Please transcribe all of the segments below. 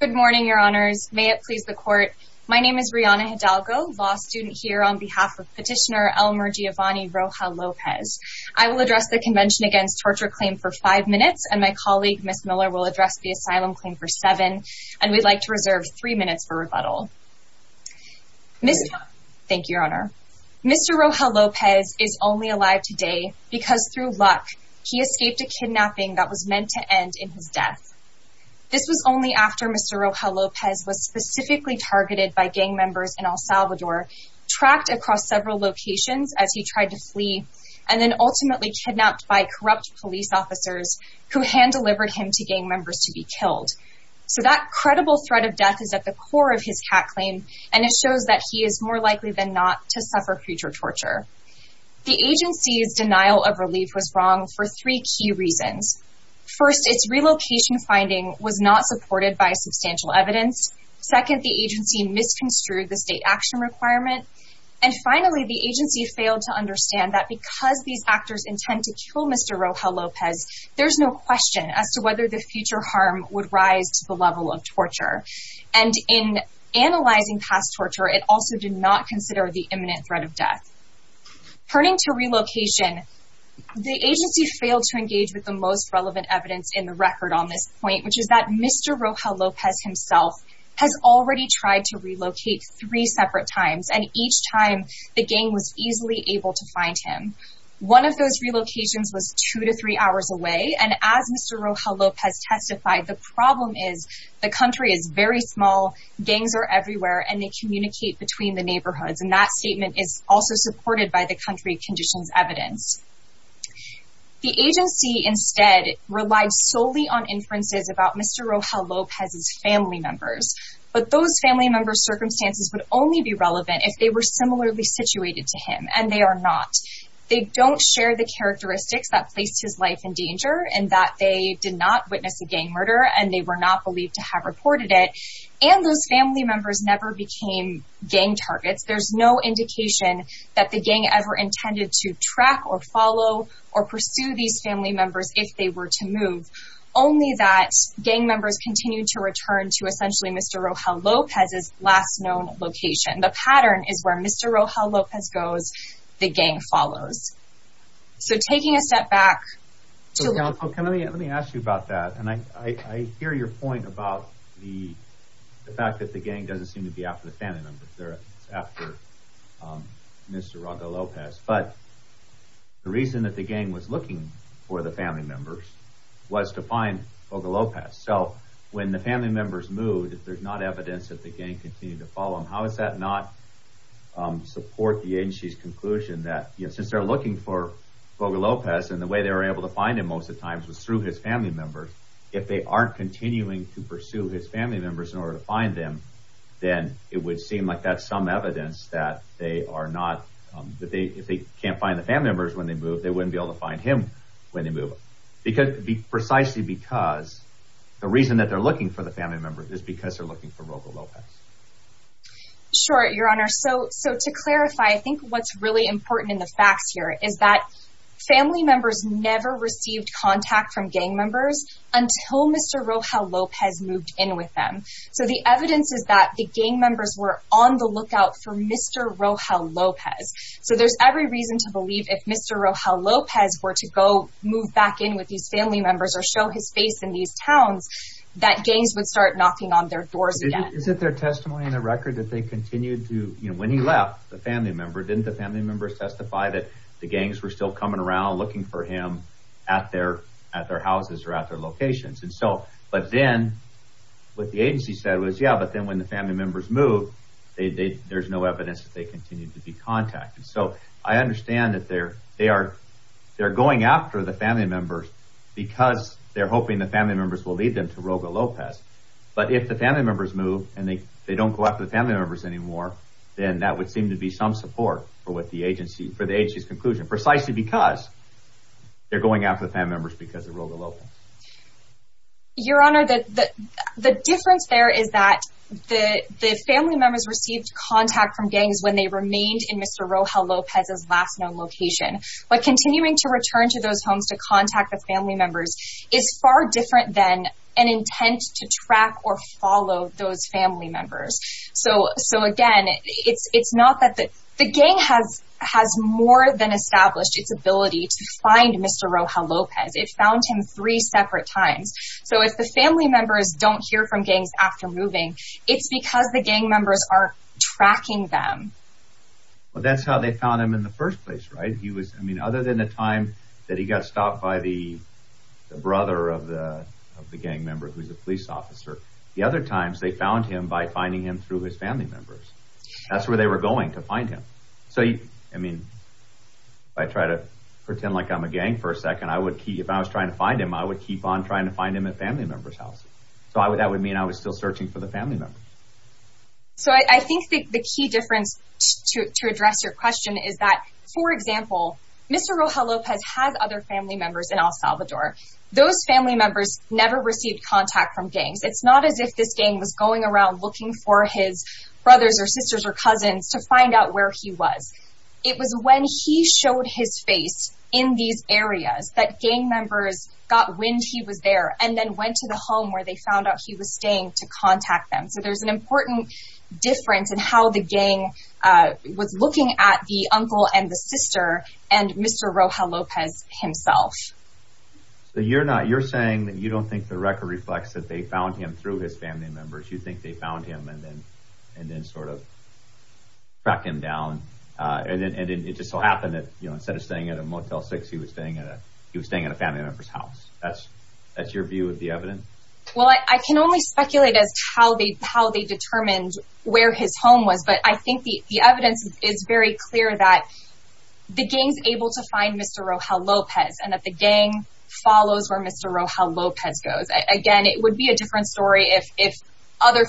Good morning, your honors. May it please the court. My name is Rihanna Hidalgo, law student here on behalf of petitioner Elmer Giovanni Roja Lopez. I will address the Convention Against Torture claim for five minutes and my colleague, Miss Miller, will address the asylum claim for seven. And we'd like to reserve three minutes for rebuttal. Thank you, your honor. Mr. Roja Lopez is only alive today because through luck, he escaped a kidnapping that was meant to end in his death. This was only after Mr. Roja Lopez was specifically targeted by gang members in El Salvador, tracked across several locations as he tried to flee, and then ultimately kidnapped by corrupt police officers who hand delivered him to gang members to be killed. So that credible threat of death is at the core of his hat claim. And it shows that he is more likely than not to suffer future torture. The agency's denial of relief was wrong for three key reasons. First, its relocation finding was not supported by substantial evidence. Second, the agency misconstrued the state action requirement. And finally, the agency failed to understand that because these actors intend to kill Mr. Roja Lopez, there's no question as to whether the future harm would rise to the level of torture. And in analyzing past torture, it also did not consider the imminent threat of death. Turning to engage with the most relevant evidence in the record on this point, which is that Mr. Roja Lopez himself has already tried to relocate three separate times and each time the gang was easily able to find him. One of those relocations was two to three hours away. And as Mr. Roja Lopez testified, the problem is the country is very small, gangs are everywhere, and they communicate between the neighborhoods. And that statement is also supported by the country conditions evidence. The agency instead relied solely on inferences about Mr. Roja Lopez's family members. But those family members circumstances would only be relevant if they were similarly situated to him and they are not. They don't share the characteristics that placed his life in danger and that they did not witness a gang murder and they were not believed to have reported it. And those family members never became gang targets. There's no indication that the gang ever intended to track or follow or pursue these family members if they were to move. Only that gang members continue to return to essentially Mr. Roja Lopez's last known location. The pattern is where Mr Roja Lopez goes, the gang follows. So taking a step back, so let me let me ask you about that. And I hear your point about the fact that the gang doesn't seem to be after the family members. They're after Mr. Roja Lopez. But the reason that the gang was looking for the family members was to find Boca Lopez. So when the family members moved, there's not evidence that the gang continued to follow him. How is that not support the agency's conclusion that since they're looking for Boca Lopez and the way they were able to find him most of times was through his family members. If they aren't continuing to pursue his family members in order to find them, then it would seem like that's some evidence that they are not that they if they can't find the family members when they move, they wouldn't be able to find him when they move because precisely because the reason that they're looking for the family members is because they're looking for Boca Lopez. Sure, Your Honor. So so to clarify, I think what's really important in the facts here is that family members never received contact from gang members until Mr Rojo Lopez moved in with them. So the evidence is that the gang members were on the lookout for Mr Rojo Lopez. So there's every reason to believe if Mr Rojo Lopez were to go move back in with these family members or show his face in these towns that gangs would start knocking on their doors again. Is it their testimony in the record that they continued to when he left the family member? Didn't the family members testify that the gangs were still coming around looking for him at their at their houses or at their locations? And so but then what the agency said was, yeah, but then when the family members move, there's no evidence that they continue to be contacted. So I understand that there they are. They're going after the family members because they're hoping the family members will lead them to Rojo Lopez. But if the family members move and they don't go after the family members anymore, then that would seem to be some support for what the agency for the agency's conclusion precisely because they're going after the family members because Rojo Lopez. Your Honor, the difference there is that the family members received contact from gangs when they remained in Mr Rojo Lopez's last known location. But continuing to return to those homes to contact the family members is far different than an intent to track or follow those family members. So again, it's not that the gang has more than established its ability to find Mr Rojo Lopez. It found him three separate times. So if the family members don't hear from gangs after moving, it's because the gang members are tracking them. Well, that's how they found him in the first place, right? He was I mean, other than the time that he got stopped by the brother of the of the gang member who's a police officer. The other times they found him by finding him through his family members. That's where they were going to find him. So I mean, I try to pretend like I'm a gang for a second. I would keep if I was trying to find him, I would keep on trying to find him at family members house. So that would mean I was still searching for the family members. So I think the key difference to address your question is that, for example, Mr Rojo Lopez has other family members in El Salvador. Those family members never received contact from gangs. It's not as if this game was going around looking for his brothers or sisters or cousins to find out where he was. It was when he showed his face in these areas that gang members got wind. He was there and then went to the home where they found out he was staying to contact them. So there's an important difference in how the gang was looking at the uncle and the sister and Mr Rojo Lopez himself. So you're not you're saying that you don't think the record reflects that they found him through his family members. You think they found him and and then sort of track him down. Uh, and it just so happened that, you know, instead of staying at a motel six, he was staying at a he was staying in a family member's house. That's that's your view of the evidence. Well, I can only speculate as how they how they determined where his home was. But I think the evidence is very clear that the games able to find Mr Rojo Lopez and that the gang follows where Mr Rojo Lopez goes again. It would be a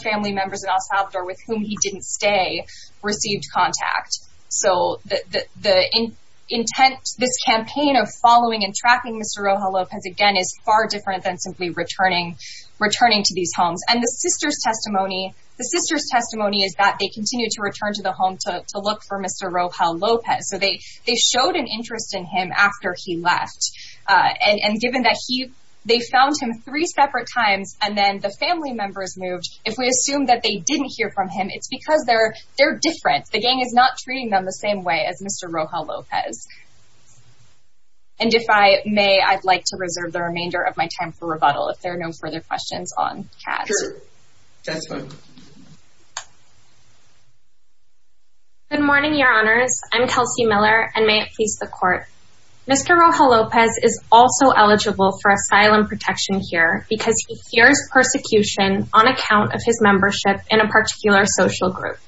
family members in El Salvador with whom he didn't stay, received contact. So the intent, this campaign of following and tracking Mr Rojo Lopez again is far different than simply returning, returning to these homes. And the sister's testimony, the sister's testimony is that they continue to return to the home to look for Mr Rojo Lopez. So they they showed an interest in him after he left. Uh, and given that he they found him three separate times, and then the family members moved. If we assume that they didn't hear from him, it's because they're they're different. The gang is not treating them the same way as Mr Rojo Lopez. And if I may, I'd like to reserve the remainder of my time for rebuttal. If there are no further questions on cats, that's fine. Good morning, Your Honors. I'm Kelsey Miller. And may it please the court. Mr. Rojo Lopez is also eligible for asylum protection here because he hears persecution on account of his membership in a particular social group.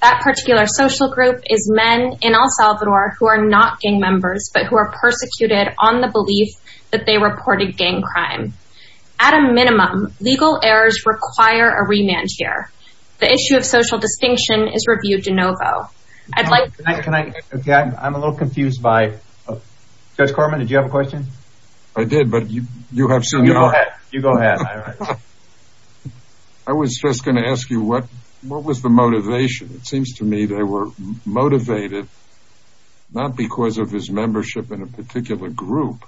That particular social group is men in El Salvador who are not gang members, but who are persecuted on the belief that they reported gang crime. At a minimum, legal errors require a remand here. The issue of social distinction is reviewed in NoVo. I'd like- Can I- I'm a little confused by- Judge Corman, did you have a question? I did, but you have- You go ahead. You go ahead. I was just going to ask you what, what was the motivation? It seems to me they were motivated, not because of his membership in a particular group,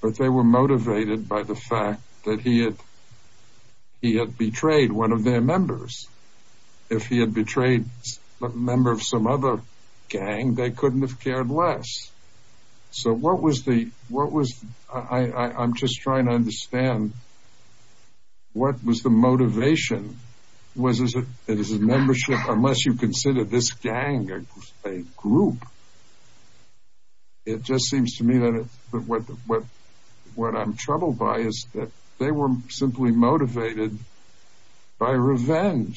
but they were motivated by the fact that he had, he had betrayed one of their trades, a member of some other gang. They couldn't have cared less. So what was the, what was, I'm just trying to understand, what was the motivation? Was it his membership? Unless you consider this gang a group. It just seems to me that what, what, what I'm troubled by is that they were simply motivated by and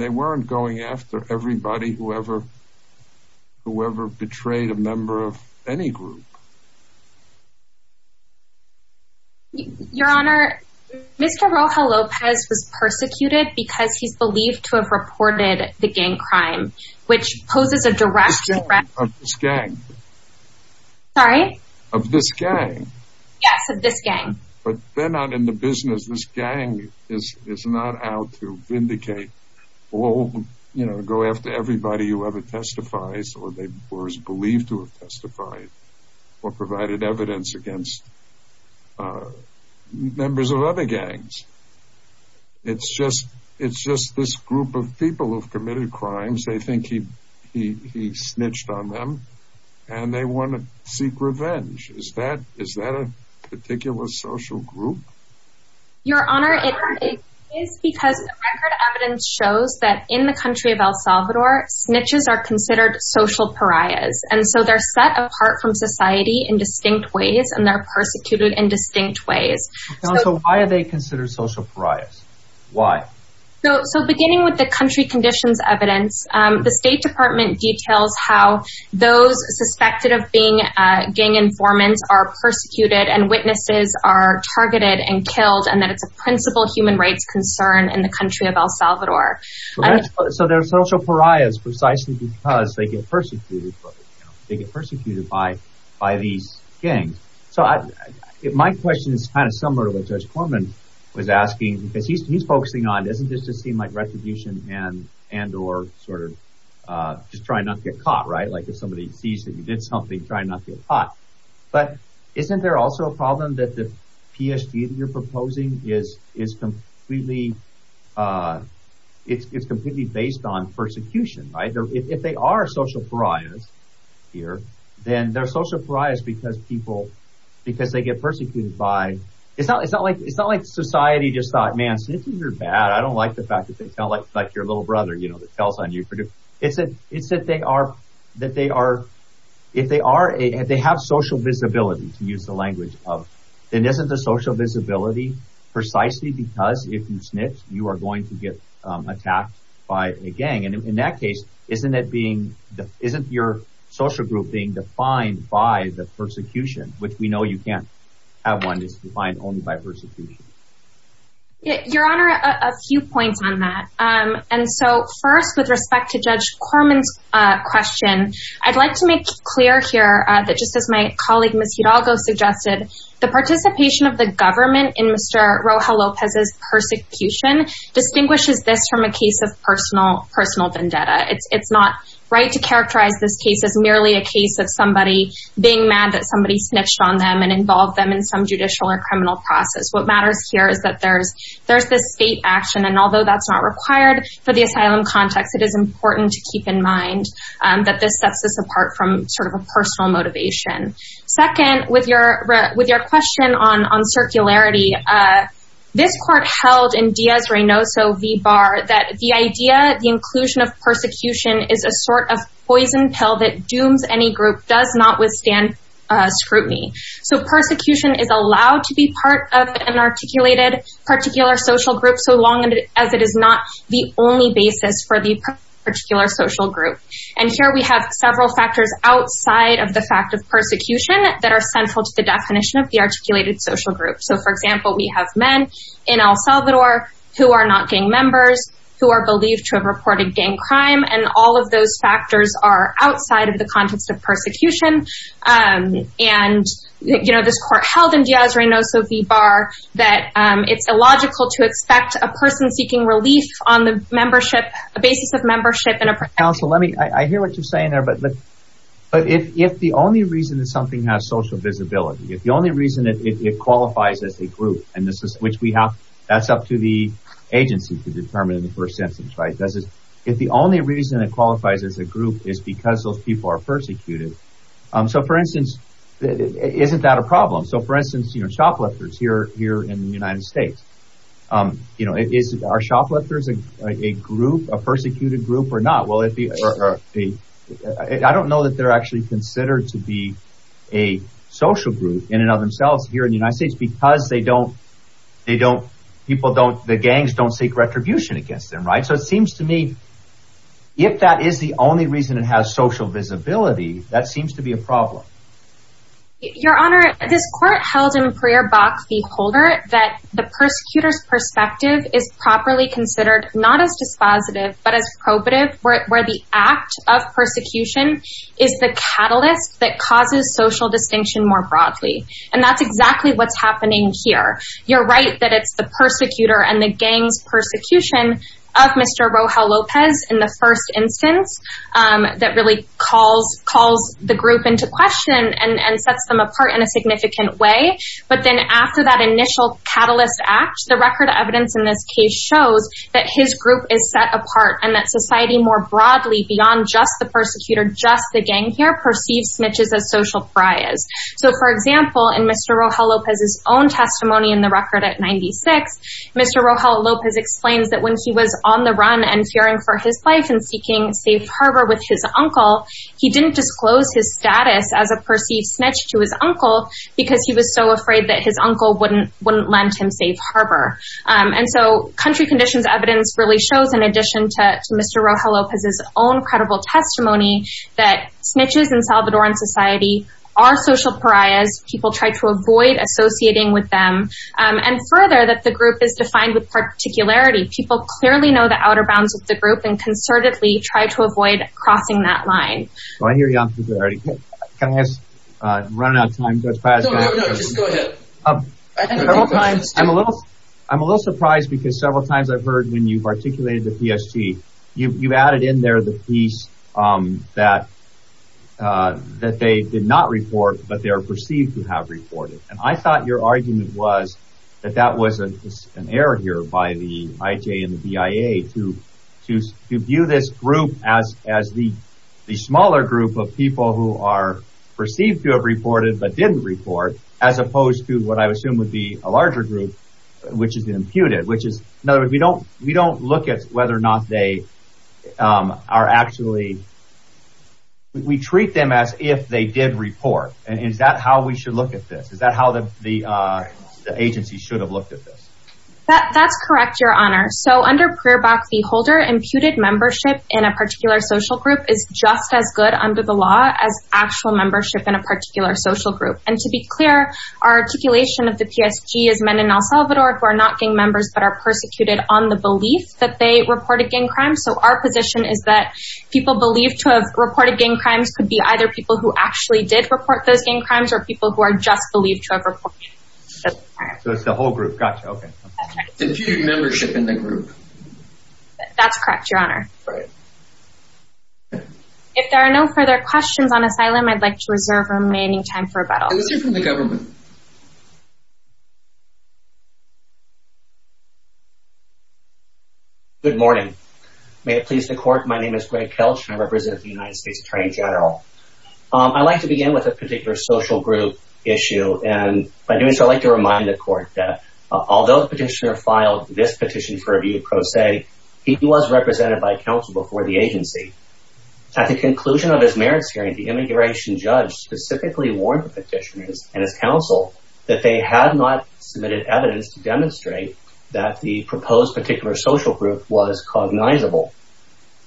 they weren't going after everybody, whoever, whoever betrayed a member of any group. Your Honor, Mr. Rojo Lopez was persecuted because he's believed to have reported the gang crime, which poses a direct threat- Of this gang. Sorry? Of this gang. Yes, of this gang. But they're not in the business, this gang is, is not out to vindicate or, you know, go after everybody who ever testifies or they were believed to have testified or provided evidence against members of other gangs. It's just, it's just this group of people who've committed crimes. They think he, he, he snitched on them and they want to seek revenge. Is that, is that a particular social group? Your Honor, it is because record evidence shows that in the country of El Salvador, snitches are considered social pariahs. And so they're set apart from society in distinct ways and they're persecuted in distinct ways. So why are they considered social pariahs? Why? So, so beginning with the country conditions evidence, the State Department details how those suspected of being gang informants are persecuted and witnesses are targeted and killed and that it's a principal human rights concern in the country of El Salvador. So they're social pariahs precisely because they get persecuted. They get persecuted by, by these gangs. So I, my question is kind of similar to what Judge Corman was asking because he's, he's focusing on, doesn't this just seem like retribution and, and or sort of just trying not to get caught, right? Like if somebody sees that you did something, try not to get caught. But isn't there also a problem that the PSD that you're proposing is, is completely, it's completely based on persecution, right? If they are social pariahs here, then they're social pariahs because people, because they get persecuted by, it's not, it's not like, it's not like society just thought, man, snitches are bad. I don't like the fact that they sound like, like your little brother, you know, that tells on you. It's that, it's that they are, that they are, if they are, if they have social visibility, to use the language of, then isn't the social visibility precisely because if you snitch, you are going to get attacked by a gang. And in that case, isn't it being, isn't your social group being defined by the persecution, which we know you can't have one, it's defined only by persecution. Your Honor, a few points on that. And so first, with respect to Judge Corman's question, I'd like to make clear here that just as my colleague Ms. Hidalgo suggested, the participation of the government in Mr. Rojo Lopez's persecution distinguishes this from a case of personal, personal vendetta. It's it's not right to characterize this case as merely a case of somebody being mad that somebody snitched on them and involved them in some judicial or criminal process. What matters here is that there's, there's this state action and although that's not required for the asylum context, it is important to keep in mind that this sets us apart from sort of a personal motivation. Second, with your, with your question on, on circularity, this court held in Diaz- Reynoso v. Barr that the idea, the inclusion of persecution is a sort of poison pill that dooms any group, does not withstand scrutiny. So persecution is allowed to be part of an articulated particular social group so long as it is not the only basis for the particular social group. And here we have several factors outside of the fact of persecution that are central to the definition of the articulated social group. So for example, we have men in El Salvador who are not gang members, who are believed to have reported gang crime, and all of those factors are outside of the context of persecution. And, you know, this court held in Diaz-Reynoso v. Barr that it's illogical to expect a belief on the membership, a basis of membership in a- Counsel, let me, I hear what you're saying there, but, but if the only reason that something has social visibility, if the only reason that it qualifies as a group, and this is, which we have, that's up to the agency to determine in the first sentence, right? Does it, if the only reason it qualifies as a group is because those people are persecuted, so for instance, isn't that a problem? So for instance, you know, shoplifters here, here in the United States, you know, is, are shoplifters a group, a persecuted group or not? Will it be, I don't know that they're actually considered to be a social group in and of themselves here in the United States, because they don't, they don't, people don't, the gangs don't seek retribution against them, right? So it seems to me, if that is the only reason it has social visibility, that seems to be a problem. Your Honor, this court held in Pereer-Bach v. Holder that the persecutor's perspective is properly considered, not as dispositive, but as probative, where the act of persecution is the catalyst that causes social distinction more broadly, and that's exactly what's happening here. You're right that it's the persecutor and the gangs' persecution of Mr. Rojo Lopez in the first instance that really calls, calls the group into question and, and sets them apart in a significant way, but then after that initial catalyst act, the record evidence in this case shows that his group is set apart and that society more broadly, beyond just the persecutor, just the gang here, perceives snitches as social pariahs. So for example, in Mr. Rojo Lopez's own testimony in the record at 96, Mr. Rojo Lopez explains that when he was on the run and fearing for his life and seeking safe harbor with his uncle, he didn't disclose his status as a perceived snitch to his uncle, because he was so afraid that his uncle wouldn't, wouldn't lend him safe harbor. And so country conditions evidence really shows, in addition to Mr. Rojo Lopez's own credible testimony, that snitches in Salvadoran society are social pariahs. People try to avoid associating with them, and further that the group is defined with particularity. People clearly know the outer bounds of the group and concertedly try to avoid crossing that run out of time. I'm a little, I'm a little surprised because several times I've heard when you've articulated the PST, you've added in there the piece that that they did not report, but they are perceived to have reported. And I thought your argument was that that was an error here by the IJ and the BIA to, to, to view this group as, as the, the smaller group of people who are perceived to have reported but didn't report, as opposed to what I would assume would be a larger group, which is the imputed, which is, in other words, we don't, we don't look at whether or not they are actually, we treat them as if they did report. And is that how we should look at this? Is that how the, the agency should have looked at this? That, that's correct, your honor. So under prayer box, the holder imputed membership in a particular social group is just as good under the law as actual membership in a particular social group. And to be clear, our articulation of the PSG is men in El Salvador who are not gang members, but are persecuted on the belief that they reported gang crimes. So our position is that people believed to have reported gang crimes could be either people who actually did report those gang crimes or people who are just believed to have reported those crimes. So it's the honor. If there are no further questions on asylum, I'd like to reserve remaining time for rebuttal. Good morning. May it please the court. My name is Greg Kelch and I represent the United States Attorney General. I'd like to begin with a particular social group issue. And by doing so, I'd like to remind the court that although the petition was represented by counsel before the agency, at the conclusion of his merits hearing, the immigration judge specifically warned the petitioners and his counsel that they had not submitted evidence to demonstrate that the proposed particular social group was cognizable.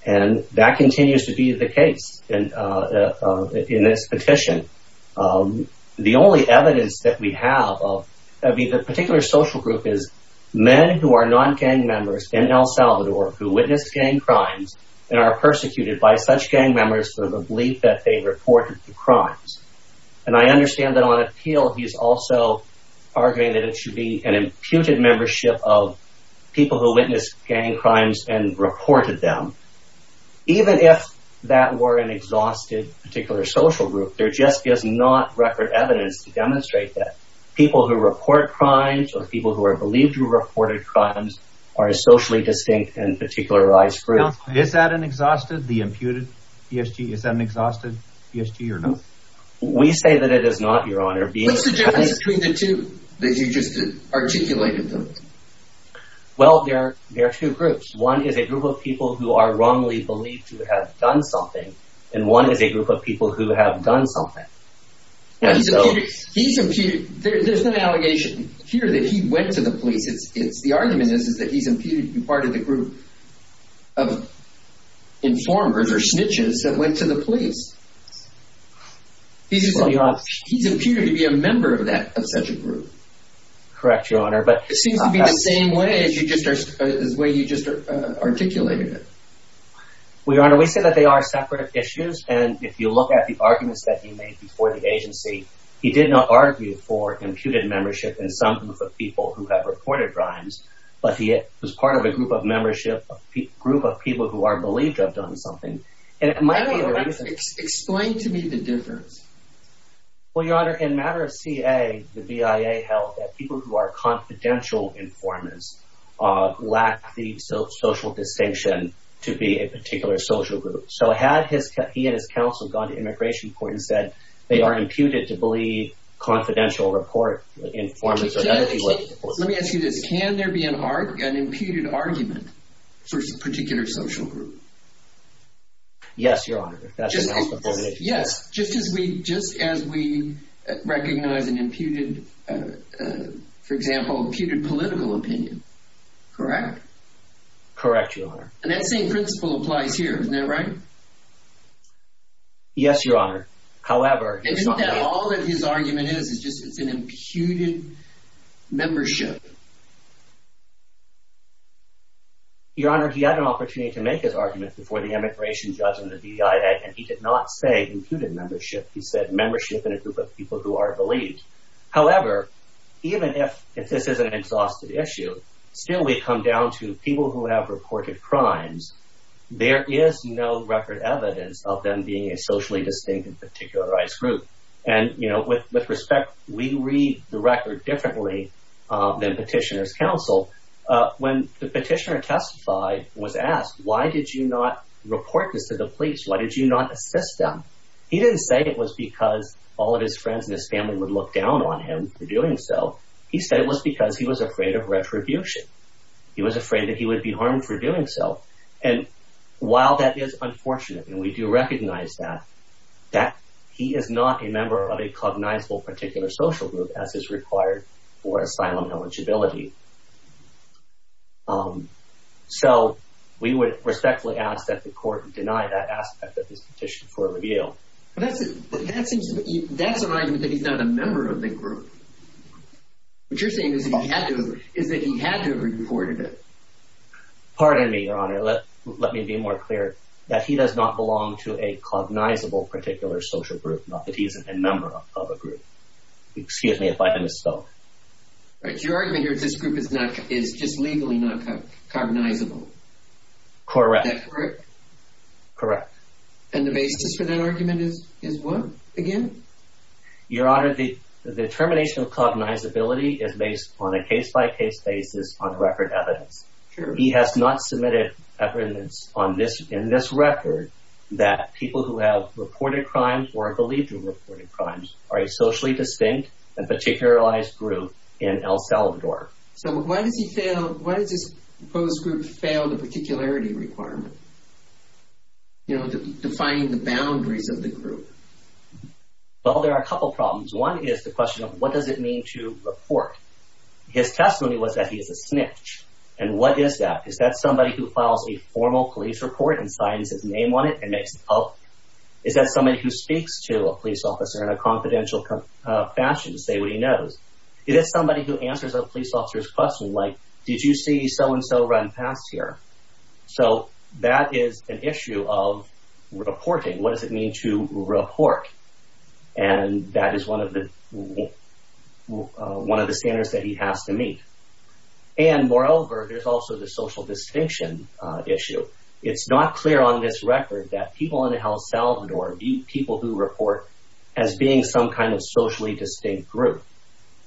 And that continues to be the case in this petition. The only evidence that we have of the particular social group is men who are non-gang members in El Salvador who witnessed gang crimes and are persecuted by such gang members for the belief that they reported the crimes. And I understand that on appeal, he's also arguing that it should be an imputed membership of people who witnessed gang crimes and reported them. Even if that were an exhausted particular social group, there just is not record evidence to demonstrate that people who report crimes or people who are believed to have reported crimes are a socially distinct and particularized group. Is that an exhausted, the imputed PSG? Is that an exhausted PSG or not? We say that it is not, Your Honor. What's the difference between the two that you just articulated though? Well, there are two groups. One is a group of people who are wrongly believed to have done something. And one is a group of people who have done something. He's imputed. There's no allegation here that he went to the police. It's the argument is that he's imputed to be part of the group of informers or snitches that went to the police. He's imputed to be a member of that, of such a group. Correct, Your Honor. But it seems to be the same way as the way you just articulated it. Well, Your Honor, we say that they are separate issues. And if you look at the arguments that he made before the agency, he did not argue for imputed membership in some group of people who have reported crimes, but he was part of a group of membership, a group of people who are believed to have done something. And it might be the reason. Explain to me the difference. Well, Your Honor, in matter of CA, the BIA held that people who are confidential informers lack the social distinction to be a particular social group. So had he and his counsel gone to immigration court and said they are imputed to believe confidential report informers, or that would be what the report would be. Let me ask you this. Can there be an imputed argument for a particular social group? Yes, Your Honor. Yes. Just as we recognize an imputed, for example, imputed political opinion. Correct? Correct, Your Honor. And that same principle applies here, isn't that right? Yes, Your Honor. However, all of his argument is, is just it's an imputed membership. Your Honor, he had an opportunity to make his argument before the immigration judge and the BIA, and he did not say imputed membership. He said membership in a group of people who are believed. However, even if this is an exhausted issue, still we come down to people who have reported crimes, there is no record evidence of them being a socially distinct and particularized group. And, you know, with respect, we read the record differently than petitioners counsel. When the petitioner testified was asked, why did you not report this to the police? Why did you not assist them? He didn't say it was because all of his friends and his family would look down on him for doing so. He said it was because he was afraid of retribution. He was afraid that he would be harmed for doing so. And while that is unfortunate, and we do recognize that, that he is not a member of a cognizable particular social group, as is required for asylum eligibility. So we would respectfully ask that the court deny that aspect of this petition for a review. But that seems, that's an argument that he's not a member of the group. What you're saying is that he had to have reported it. Pardon me, Your Honor, let me be more clear, that he does not belong to a cognizable particular social group, not that he isn't a member of a group. Excuse me if I misspoke. But your argument here is this group is just legally not cognizable. Correct. Is that correct? Correct. And the basis for that argument is what, again? Your Honor, the determination of cognizability is based on a case-by-case basis on record evidence. He has not submitted evidence on this, in this record, that people who have reported crimes or are believed to have reported crimes are a socially distinct and particularized group in El Salvador. So why does he fail, why does this proposed group fail the particularity requirement? You know, defining the boundaries of the group. Well, there are a couple problems. One is the question of what does it mean to report? His testimony was that he is a snitch. And what is that? Is that somebody who files a formal police report and signs his name on it and makes it public? Is that somebody who speaks to a police officer in a confidential fashion to say what he knows? It is somebody who answers a police officer's question, like, did you see so and so run past here? So that is an issue of reporting. What does it mean to report? And that is one of the, one of the standards that he has to meet. And moreover, there's also the social distinction issue. It's not clear on this record that people in El Salvador view people who report as being some kind of socially distinct group.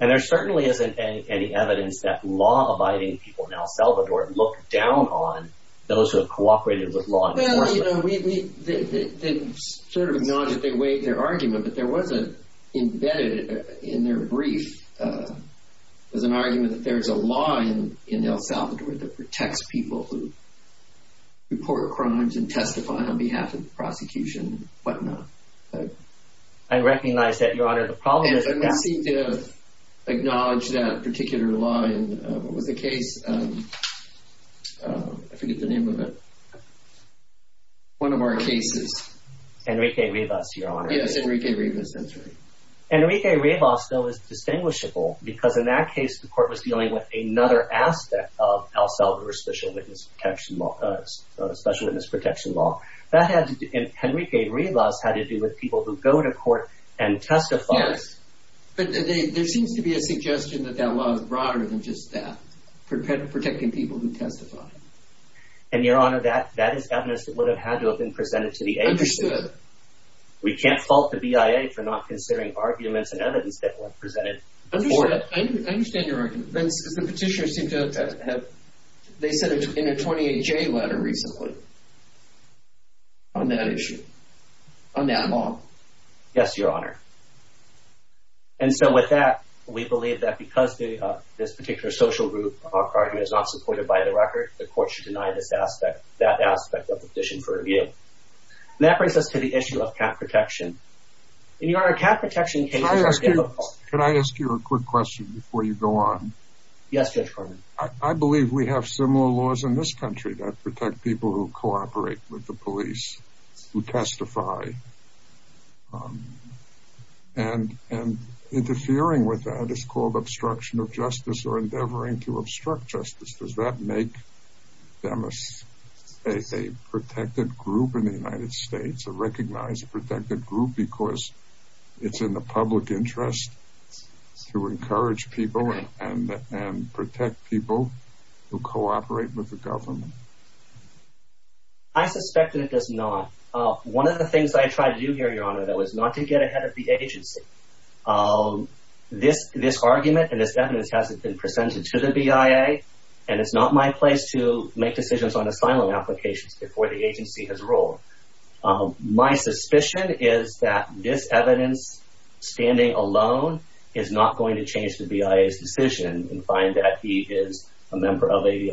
And there certainly isn't any evidence that law-abiding people in El Salvador look down on those who have cooperated with law enforcement. Well, you know, they sort of acknowledge that they weighed their argument, but there was an embedded in their brief, there's an argument that there's a law in El Salvador that protects people who report crimes and testify on behalf of the prosecution and whatnot. I recognize that, Your Honor. The problem is that... And they seem to acknowledge that particular law in what was the case, I forget the name of it. One of our cases. Enrique Rivas, Your Honor. Yes, Enrique Rivas, that's right. Enrique Rivas, though, is distinguishable because in that case, the court was dealing with another aspect of El Salvador's special witness protection law. That had to do, Enrique Rivas, had to do with people who go to court and testify. Yes, but there seems to be a suggestion that that law is broader than just that, protecting people who testify. And, Your Honor, that is evidence that would have had to have been presented to the agency. Understood. We can't fault the BIA for not considering arguments and evidence that were presented before that. I understand your argument, Vince, because the petitioners seem to have, they said in a 28-J letter recently on that issue, on that law. Yes, Your Honor. And so with that, we believe that because this particular social group argument is not supported by the record, the court should deny this aspect, that aspect of the petition for review. That brings us to the issue of cat protection. And, Your Honor, cat protection cases- Can I ask you a quick question before you go on? Yes, Judge Corman. I believe we have similar laws in this country that protect people who cooperate with the police, who testify. And interfering with that is called obstruction of justice or endeavoring to enforce that. Does that make them a protected group in the United States, a recognized protected group, because it's in the public interest to encourage people and protect people who cooperate with the government? I suspect that it does not. One of the things I try to do here, Your Honor, though, is not to get ahead of the agency. This argument and this evidence hasn't been presented to the BIA, and it's not my place to make decisions on asylum applications before the agency has ruled. My suspicion is that this evidence standing alone is not going to change the BIA's decision and find that he is a member of a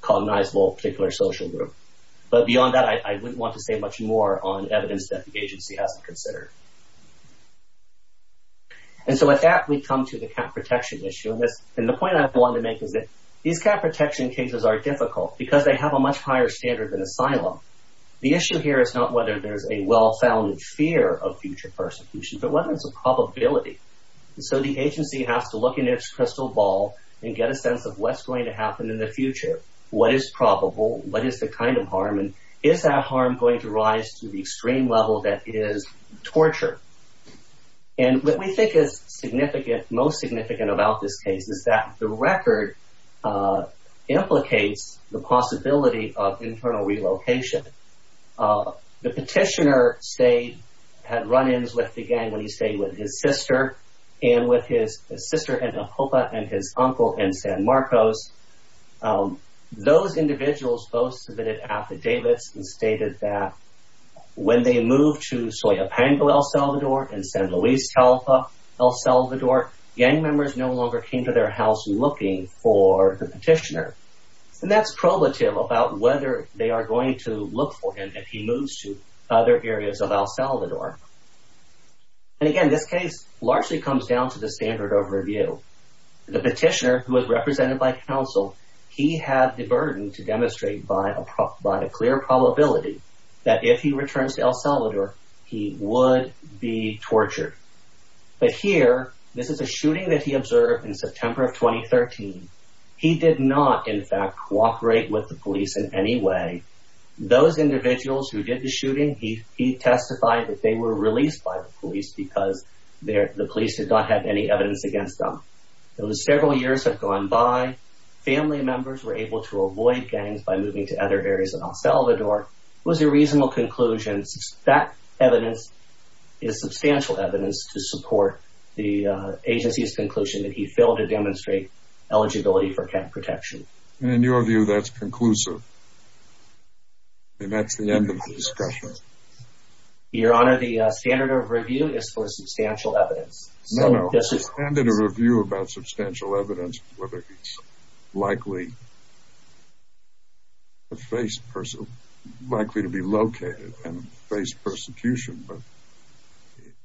cognizable particular social group. But beyond that, I wouldn't want to say much more on evidence that the agency hasn't considered. And so with that, we come to the cap protection issue. And the point I want to make is that these cap protection cases are difficult because they have a much higher standard than asylum. The issue here is not whether there is a well-founded fear of future persecution, but whether it's a probability. So the agency has to look in its crystal ball and get a sense of what's going to happen in the future. What is probable? What is the kind of harm? And is that harm going to rise to the extreme level that is torture? And what we think is significant, most significant about this case, is that the record implicates the possibility of internal relocation. The petitioner had run-ins with the gang when he stayed with his sister and with his sister and his uncle in San Marcos. Those individuals both submitted affidavits and stated that when they moved to Coyo Pango, El Salvador, and San Luis Talpa, El Salvador, gang members no longer came to their house looking for the petitioner. And that's probative about whether they are going to look for him if he moves to other areas of El Salvador. And again, this case largely comes down to the standard of review. The petitioner, who was represented by counsel, he had the burden to demonstrate by a clear probability that if he returns to El Salvador, he would be tortured. But here, this is a shooting that he observed in September of 2013. He did not, in fact, cooperate with the police in any way. Those individuals who did the shooting, he testified that they were released by the police because the police did not have any evidence against them. Those several years have gone by. Family members were able to avoid gangs by moving to other areas of El Salvador. It was a reasonable conclusion. That evidence is substantial evidence to support the agency's conclusion that he failed to demonstrate eligibility for cat protection. And in your view, that's conclusive. And that's the end of the discussion. Your Honor, the standard of review is for substantial evidence. No, no. The standard of review about substantial evidence, whether he's likely to face pers- likely to be located and face persecution. But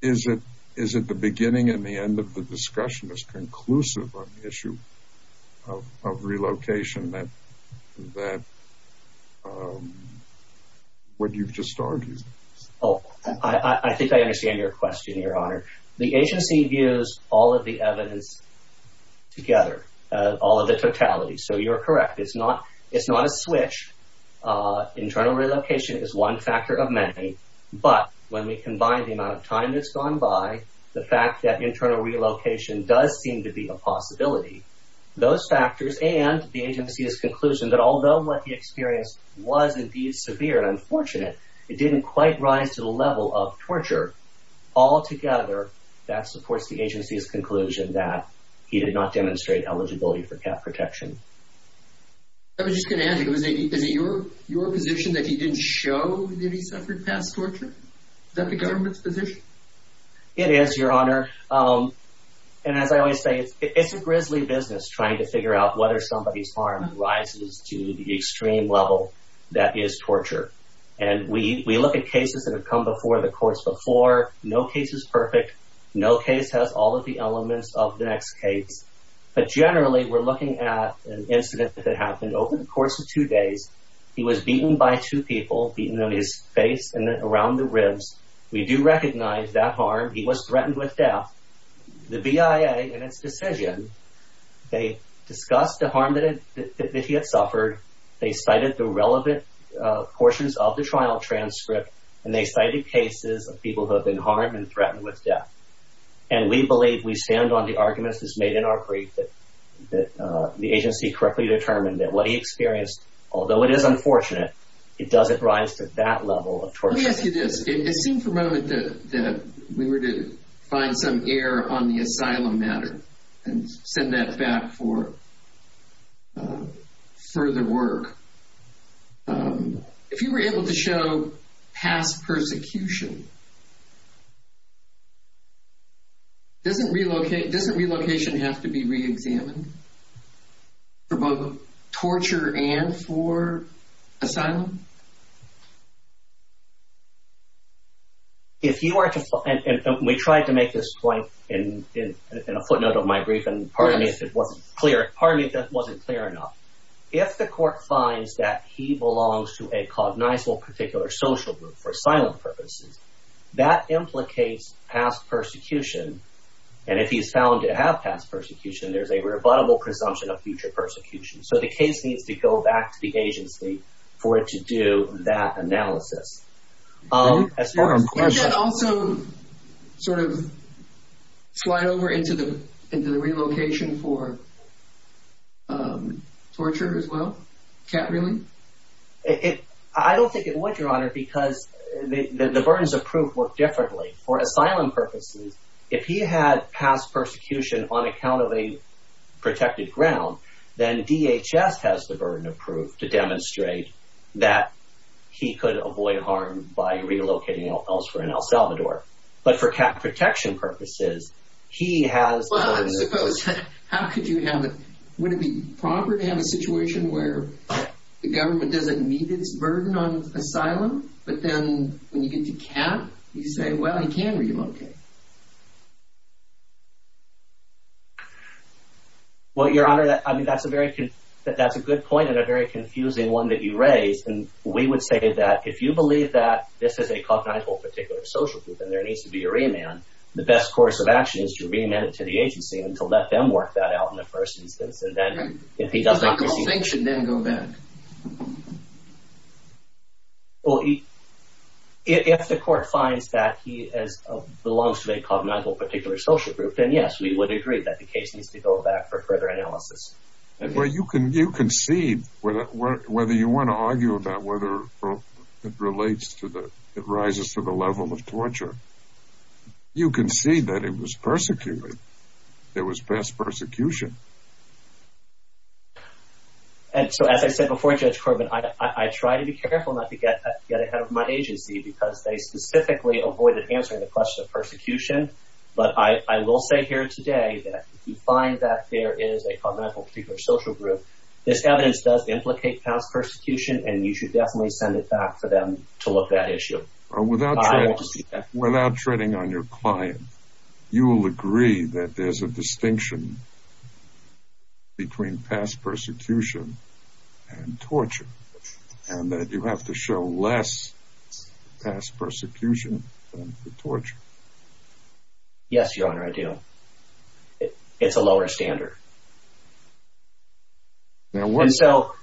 is it, is it the beginning and the end of the discussion is conclusive on the issue of relocation that, that, um, what you've just argued? Oh, I think I understand your question, Your Honor. The agency views all of the evidence together, uh, all of the totality. So you're correct. It's not, it's not a switch. Uh, internal relocation is one factor of many, but when we combine the amount of time that's gone by, the fact that internal relocation does seem to be a possibility, those factors and the agency's conclusion that although what the experience was indeed severe and unfortunate, it didn't quite rise to the That supports the agency's conclusion that he did not demonstrate eligibility for cap protection. I was just going to ask, is it your, your position that he didn't show that he suffered past torture? Is that the government's position? It is, Your Honor. Um, and as I always say, it's, it's a grisly business trying to figure out whether somebody's harm rises to the extreme level that is torture. And we, we look at cases that have come before the courts before. No case is perfect. No case has all of the elements of the next case, but generally we're looking at an incident that happened over the course of two days. He was beaten by two people, beaten on his face and then around the ribs. We do recognize that harm. He was threatened with death. The BIA in its decision, they discussed the harm that he had suffered. They cited the relevant portions of the trial transcript and they cited cases of people who have been harmed and threatened with death, and we believe we stand on the arguments that's made in our brief that, that the agency correctly determined that what he experienced, although it is unfortunate, it doesn't rise to that level of torture. Let me ask you this, it seemed for a moment that we were to find some air on the asylum matter and send that back for further work. If you were able to show past persecution, doesn't relocation have to be re-examined? For both torture and for asylum? If you are to, and we tried to make this point in a footnote of my brief, and pardon me if it wasn't clear, pardon me if that wasn't clear enough. If the court finds that he belongs to a cognizable particular social group for asylum purposes, that implicates past persecution. And if he's found to have past persecution, there's a rebuttable presumption of future persecution. So the case needs to go back to the agency for it to do that analysis. Can that also sort of slide over into the relocation for torture as well, cat-reeling? I don't think it would, Your Honor, because the burdens of proof look differently. For asylum purposes, if he had past persecution on account of a protected ground, then DHS has the burden of proof to demonstrate that he could avoid harm by relocating elsewhere in El Salvador. But for cat protection purposes, he has the burden of proof. How could you have, would it be proper to have a situation where the government doesn't meet its burden on asylum, but then when you get to cat, you say, well, he can relocate. Well, Your Honor, I mean, that's a very, that's a good point and a very confusing one that you raised. And we would say that if you believe that this is a cognizable particular social group and there needs to be a remand, the best course of action is to remand it to the agency and to let them work that out in the first instance. And then if he doesn't receive it. He's on constinction, then go back. Well, if the court finds that he belongs to a cognizable particular social group, then yes, we would agree that the case needs to go back for further analysis. Well, you can, you can see whether you want to argue about whether it relates to the, it rises to the level of torture. You can see that it was persecuted. There was past persecution. And so, as I said before, Judge Corbin, I, I try to be careful not to get, get ahead of my agency because they specifically avoided answering the question of persecution, but I, I will say here today that if you find that there is a cognizable particular social group, this evidence does implicate past persecution and you should definitely send it back for them to look at issue. Or without, without treading on your client, you will agree that there's a distinction between past persecution and torture and that you have to show less past persecution than torture. Yes, Your Honor, I do. It's a lower standard. And so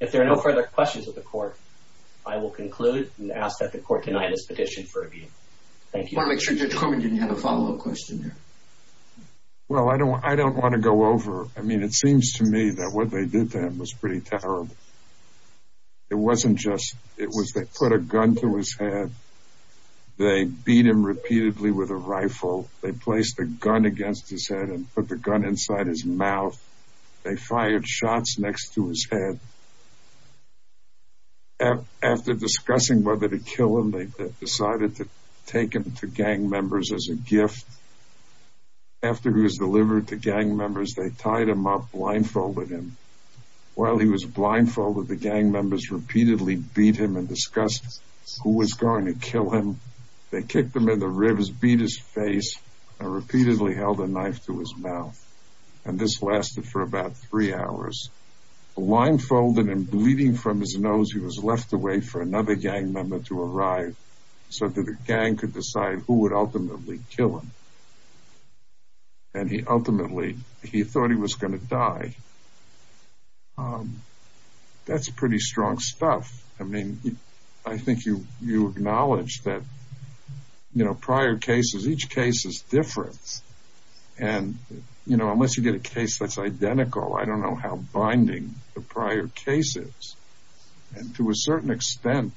if there are no further questions of the court, I will conclude and ask that the court deny this petition for review. Thank you. I want to make sure Judge Corbin didn't have a follow-up question there. Well, I don't, I don't want to go over. I mean, it seems to me that what they did to him was pretty terrible. It wasn't just, it was, they put a gun to his head. They beat him repeatedly with a rifle. They placed a gun against his head and put the gun inside his mouth. They fired shots next to his head. After discussing whether to kill him, they decided to take him to gang members as a He was delivered to gang members. They tied him up, blindfolded him. While he was blindfolded, the gang members repeatedly beat him and discussed who was going to kill him. They kicked him in the ribs, beat his face and repeatedly held a knife to his mouth. And this lasted for about three hours. Blindfolded and bleeding from his nose, he was left to wait for another gang member to arrive so that the gang could decide who would ultimately kill him. And he ultimately, he thought he was going to die. Um, that's pretty strong stuff. I mean, I think you, you acknowledge that, you know, prior cases, each case is different and you know, unless you get a case that's identical, I don't know how binding the prior cases. And to a certain extent,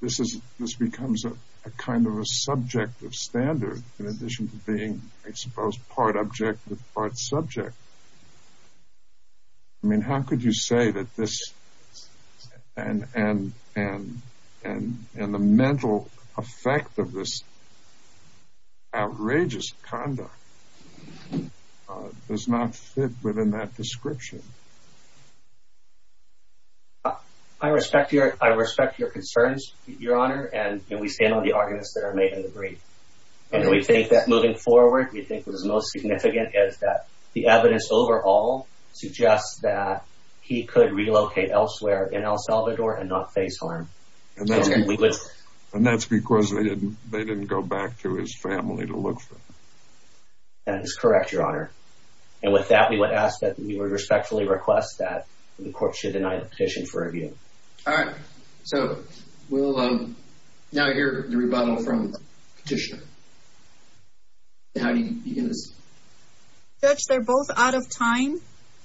this is, this becomes a kind of a subject of standard in addition to being exposed part object with part subject. I mean, how could you say that this and, and, and, and, and the mental effect of this outrageous conduct does not fit within that description. I respect your, I respect your concerns, your honor. And we stand on the arguments that are made in the brief. And we think that moving forward, we think what is most significant is that the evidence overall suggests that he could relocate elsewhere in El Salvador and not face harm. And that's because they didn't, they didn't go back to his family to look for him. That is correct, your honor. And with that, we would ask that we would respectfully request that the court should deny the petition for review. All right. So we'll now hear the rebuttal from the petitioner. And how do you begin this? Judge, they're both out of time.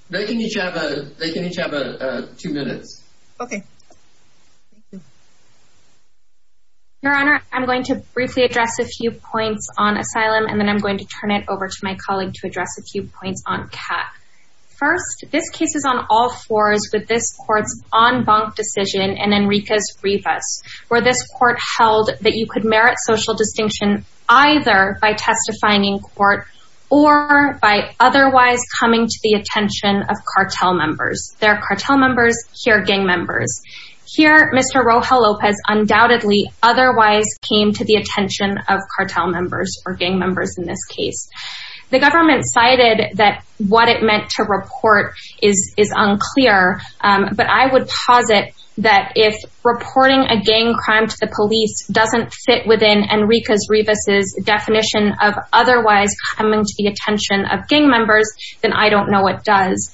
They can each have a, they can each have a two minutes. Okay. Your honor, I'm going to briefly address a few points on asylum, and then I'm going to turn it over to my colleague to address a few points on CAP. First, this case is on all fours with this court's en banc decision and Enrique's either by testifying in court or by otherwise coming to the attention of cartel members. There are cartel members, here gang members. Here, Mr. Rojal Lopez undoubtedly otherwise came to the attention of cartel members or gang members in this case. The government cited that what it meant to report is unclear. But I would posit that if reporting a gang crime to the police doesn't fit within Enrique's, Revis's definition of otherwise coming to the attention of gang members, then I don't know what does.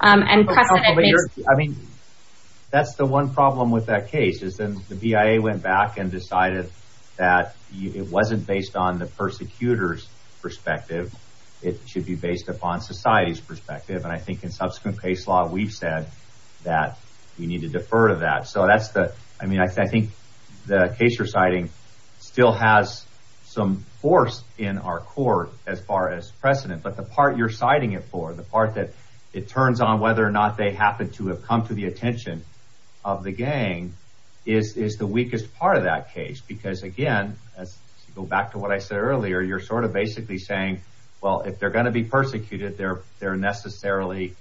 And precedent makes- I mean, that's the one problem with that case is then the BIA went back and decided that it wasn't based on the persecutor's perspective. It should be based upon society's perspective. And I think in subsequent case law, we've said that we need to defer to that. So that's the- I mean, I think the case you're citing still has some force in our court as far as precedent, but the part you're citing it for, the part that it turns on whether or not they happen to have come to the attention of the gang is the weakest part of that case. Because again, as you go back to what I said earlier, you're sort of basically saying, well, if they're going to be persecuted, they're necessarily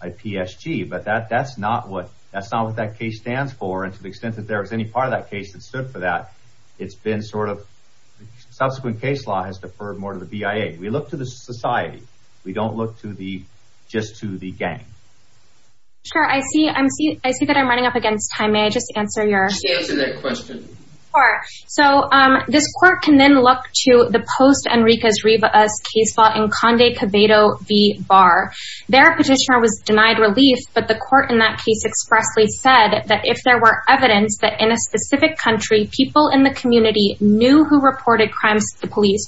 a PSG. But that's not what that case stands for. And to the extent that there was any part of that case that stood for that, it's been sort of subsequent case law has deferred more to the BIA. We look to the society. We don't look to the- just to the gang. Sure, I see that I'm running up against time. May I just answer your- Just answer that question. So this court can then look to the post-Enrique's, Revis case law in Conde Cabedo v. Barr. Their petitioner was denied relief, but the court in that case expressly said that if there were evidence that in a specific country, people in the community knew who reported crimes to the police,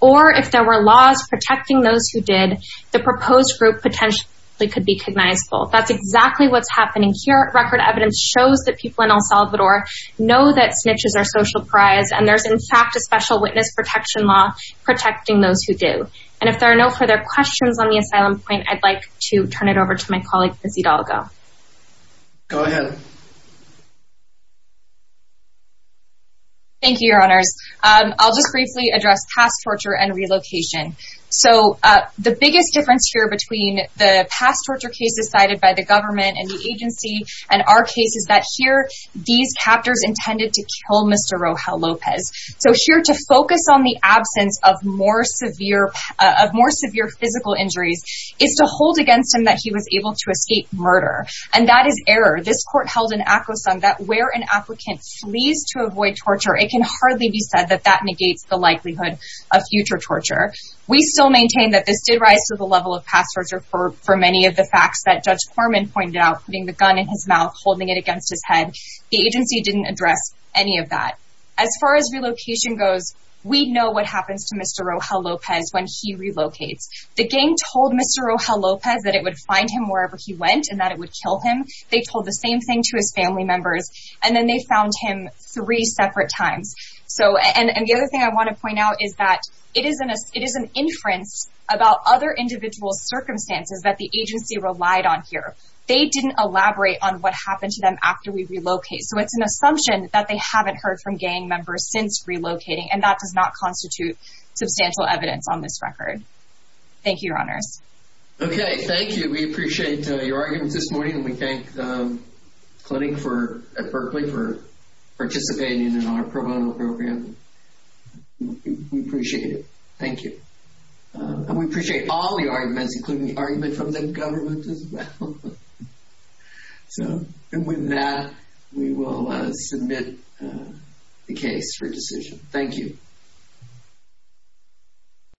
or if there were laws protecting those who did, the proposed group potentially could be cognizable. That's exactly what's happening here. Record evidence shows that people in El Salvador know that snitches are social pariahs, and there's in fact a special witness protection law protecting those who do. And if there are no further questions on the asylum point, I'd like to turn it over to my colleague, Lizzy Dalga. Go ahead. Thank you, Your Honors. I'll just briefly address past torture and relocation. So the biggest difference here between the past torture cases cited by the government and the agency and our case is that here, these captors intended to kill Mr. Rojal Lopez. So here to focus on the absence of more severe physical injuries is to hold against him that he was able to escape murder. And that is error. This court held an acquiescent that where an applicant flees to avoid torture, it can hardly be said that that negates the likelihood of future torture. We still maintain that this did rise to the level of past torture for many of the facts that Judge Foreman pointed out, putting the gun in his mouth, holding it against his head. The agency didn't address any of that. As far as relocation goes, we know what happens to Mr. Rojal Lopez when he relocates. The gang told Mr. Rojal Lopez that it would find him wherever he went and that it would kill him. They told the same thing to his family members, and then they found him three separate times. So and the other thing I want to point out is that it is an inference about other individual circumstances that the agency relied on here. They didn't elaborate on what happened to them after we relocate. So it's an assumption that they haven't heard from gang members since relocating. And that does not constitute substantial evidence on this record. Thank you, Your Honors. Okay. Thank you. We appreciate your arguments this morning. And we thank the clinic at Berkeley for participating in our pro bono program. We appreciate it. Thank you. And we appreciate all the arguments, including the argument from the government as well. So and with that, we will submit the case for decision. Thank you.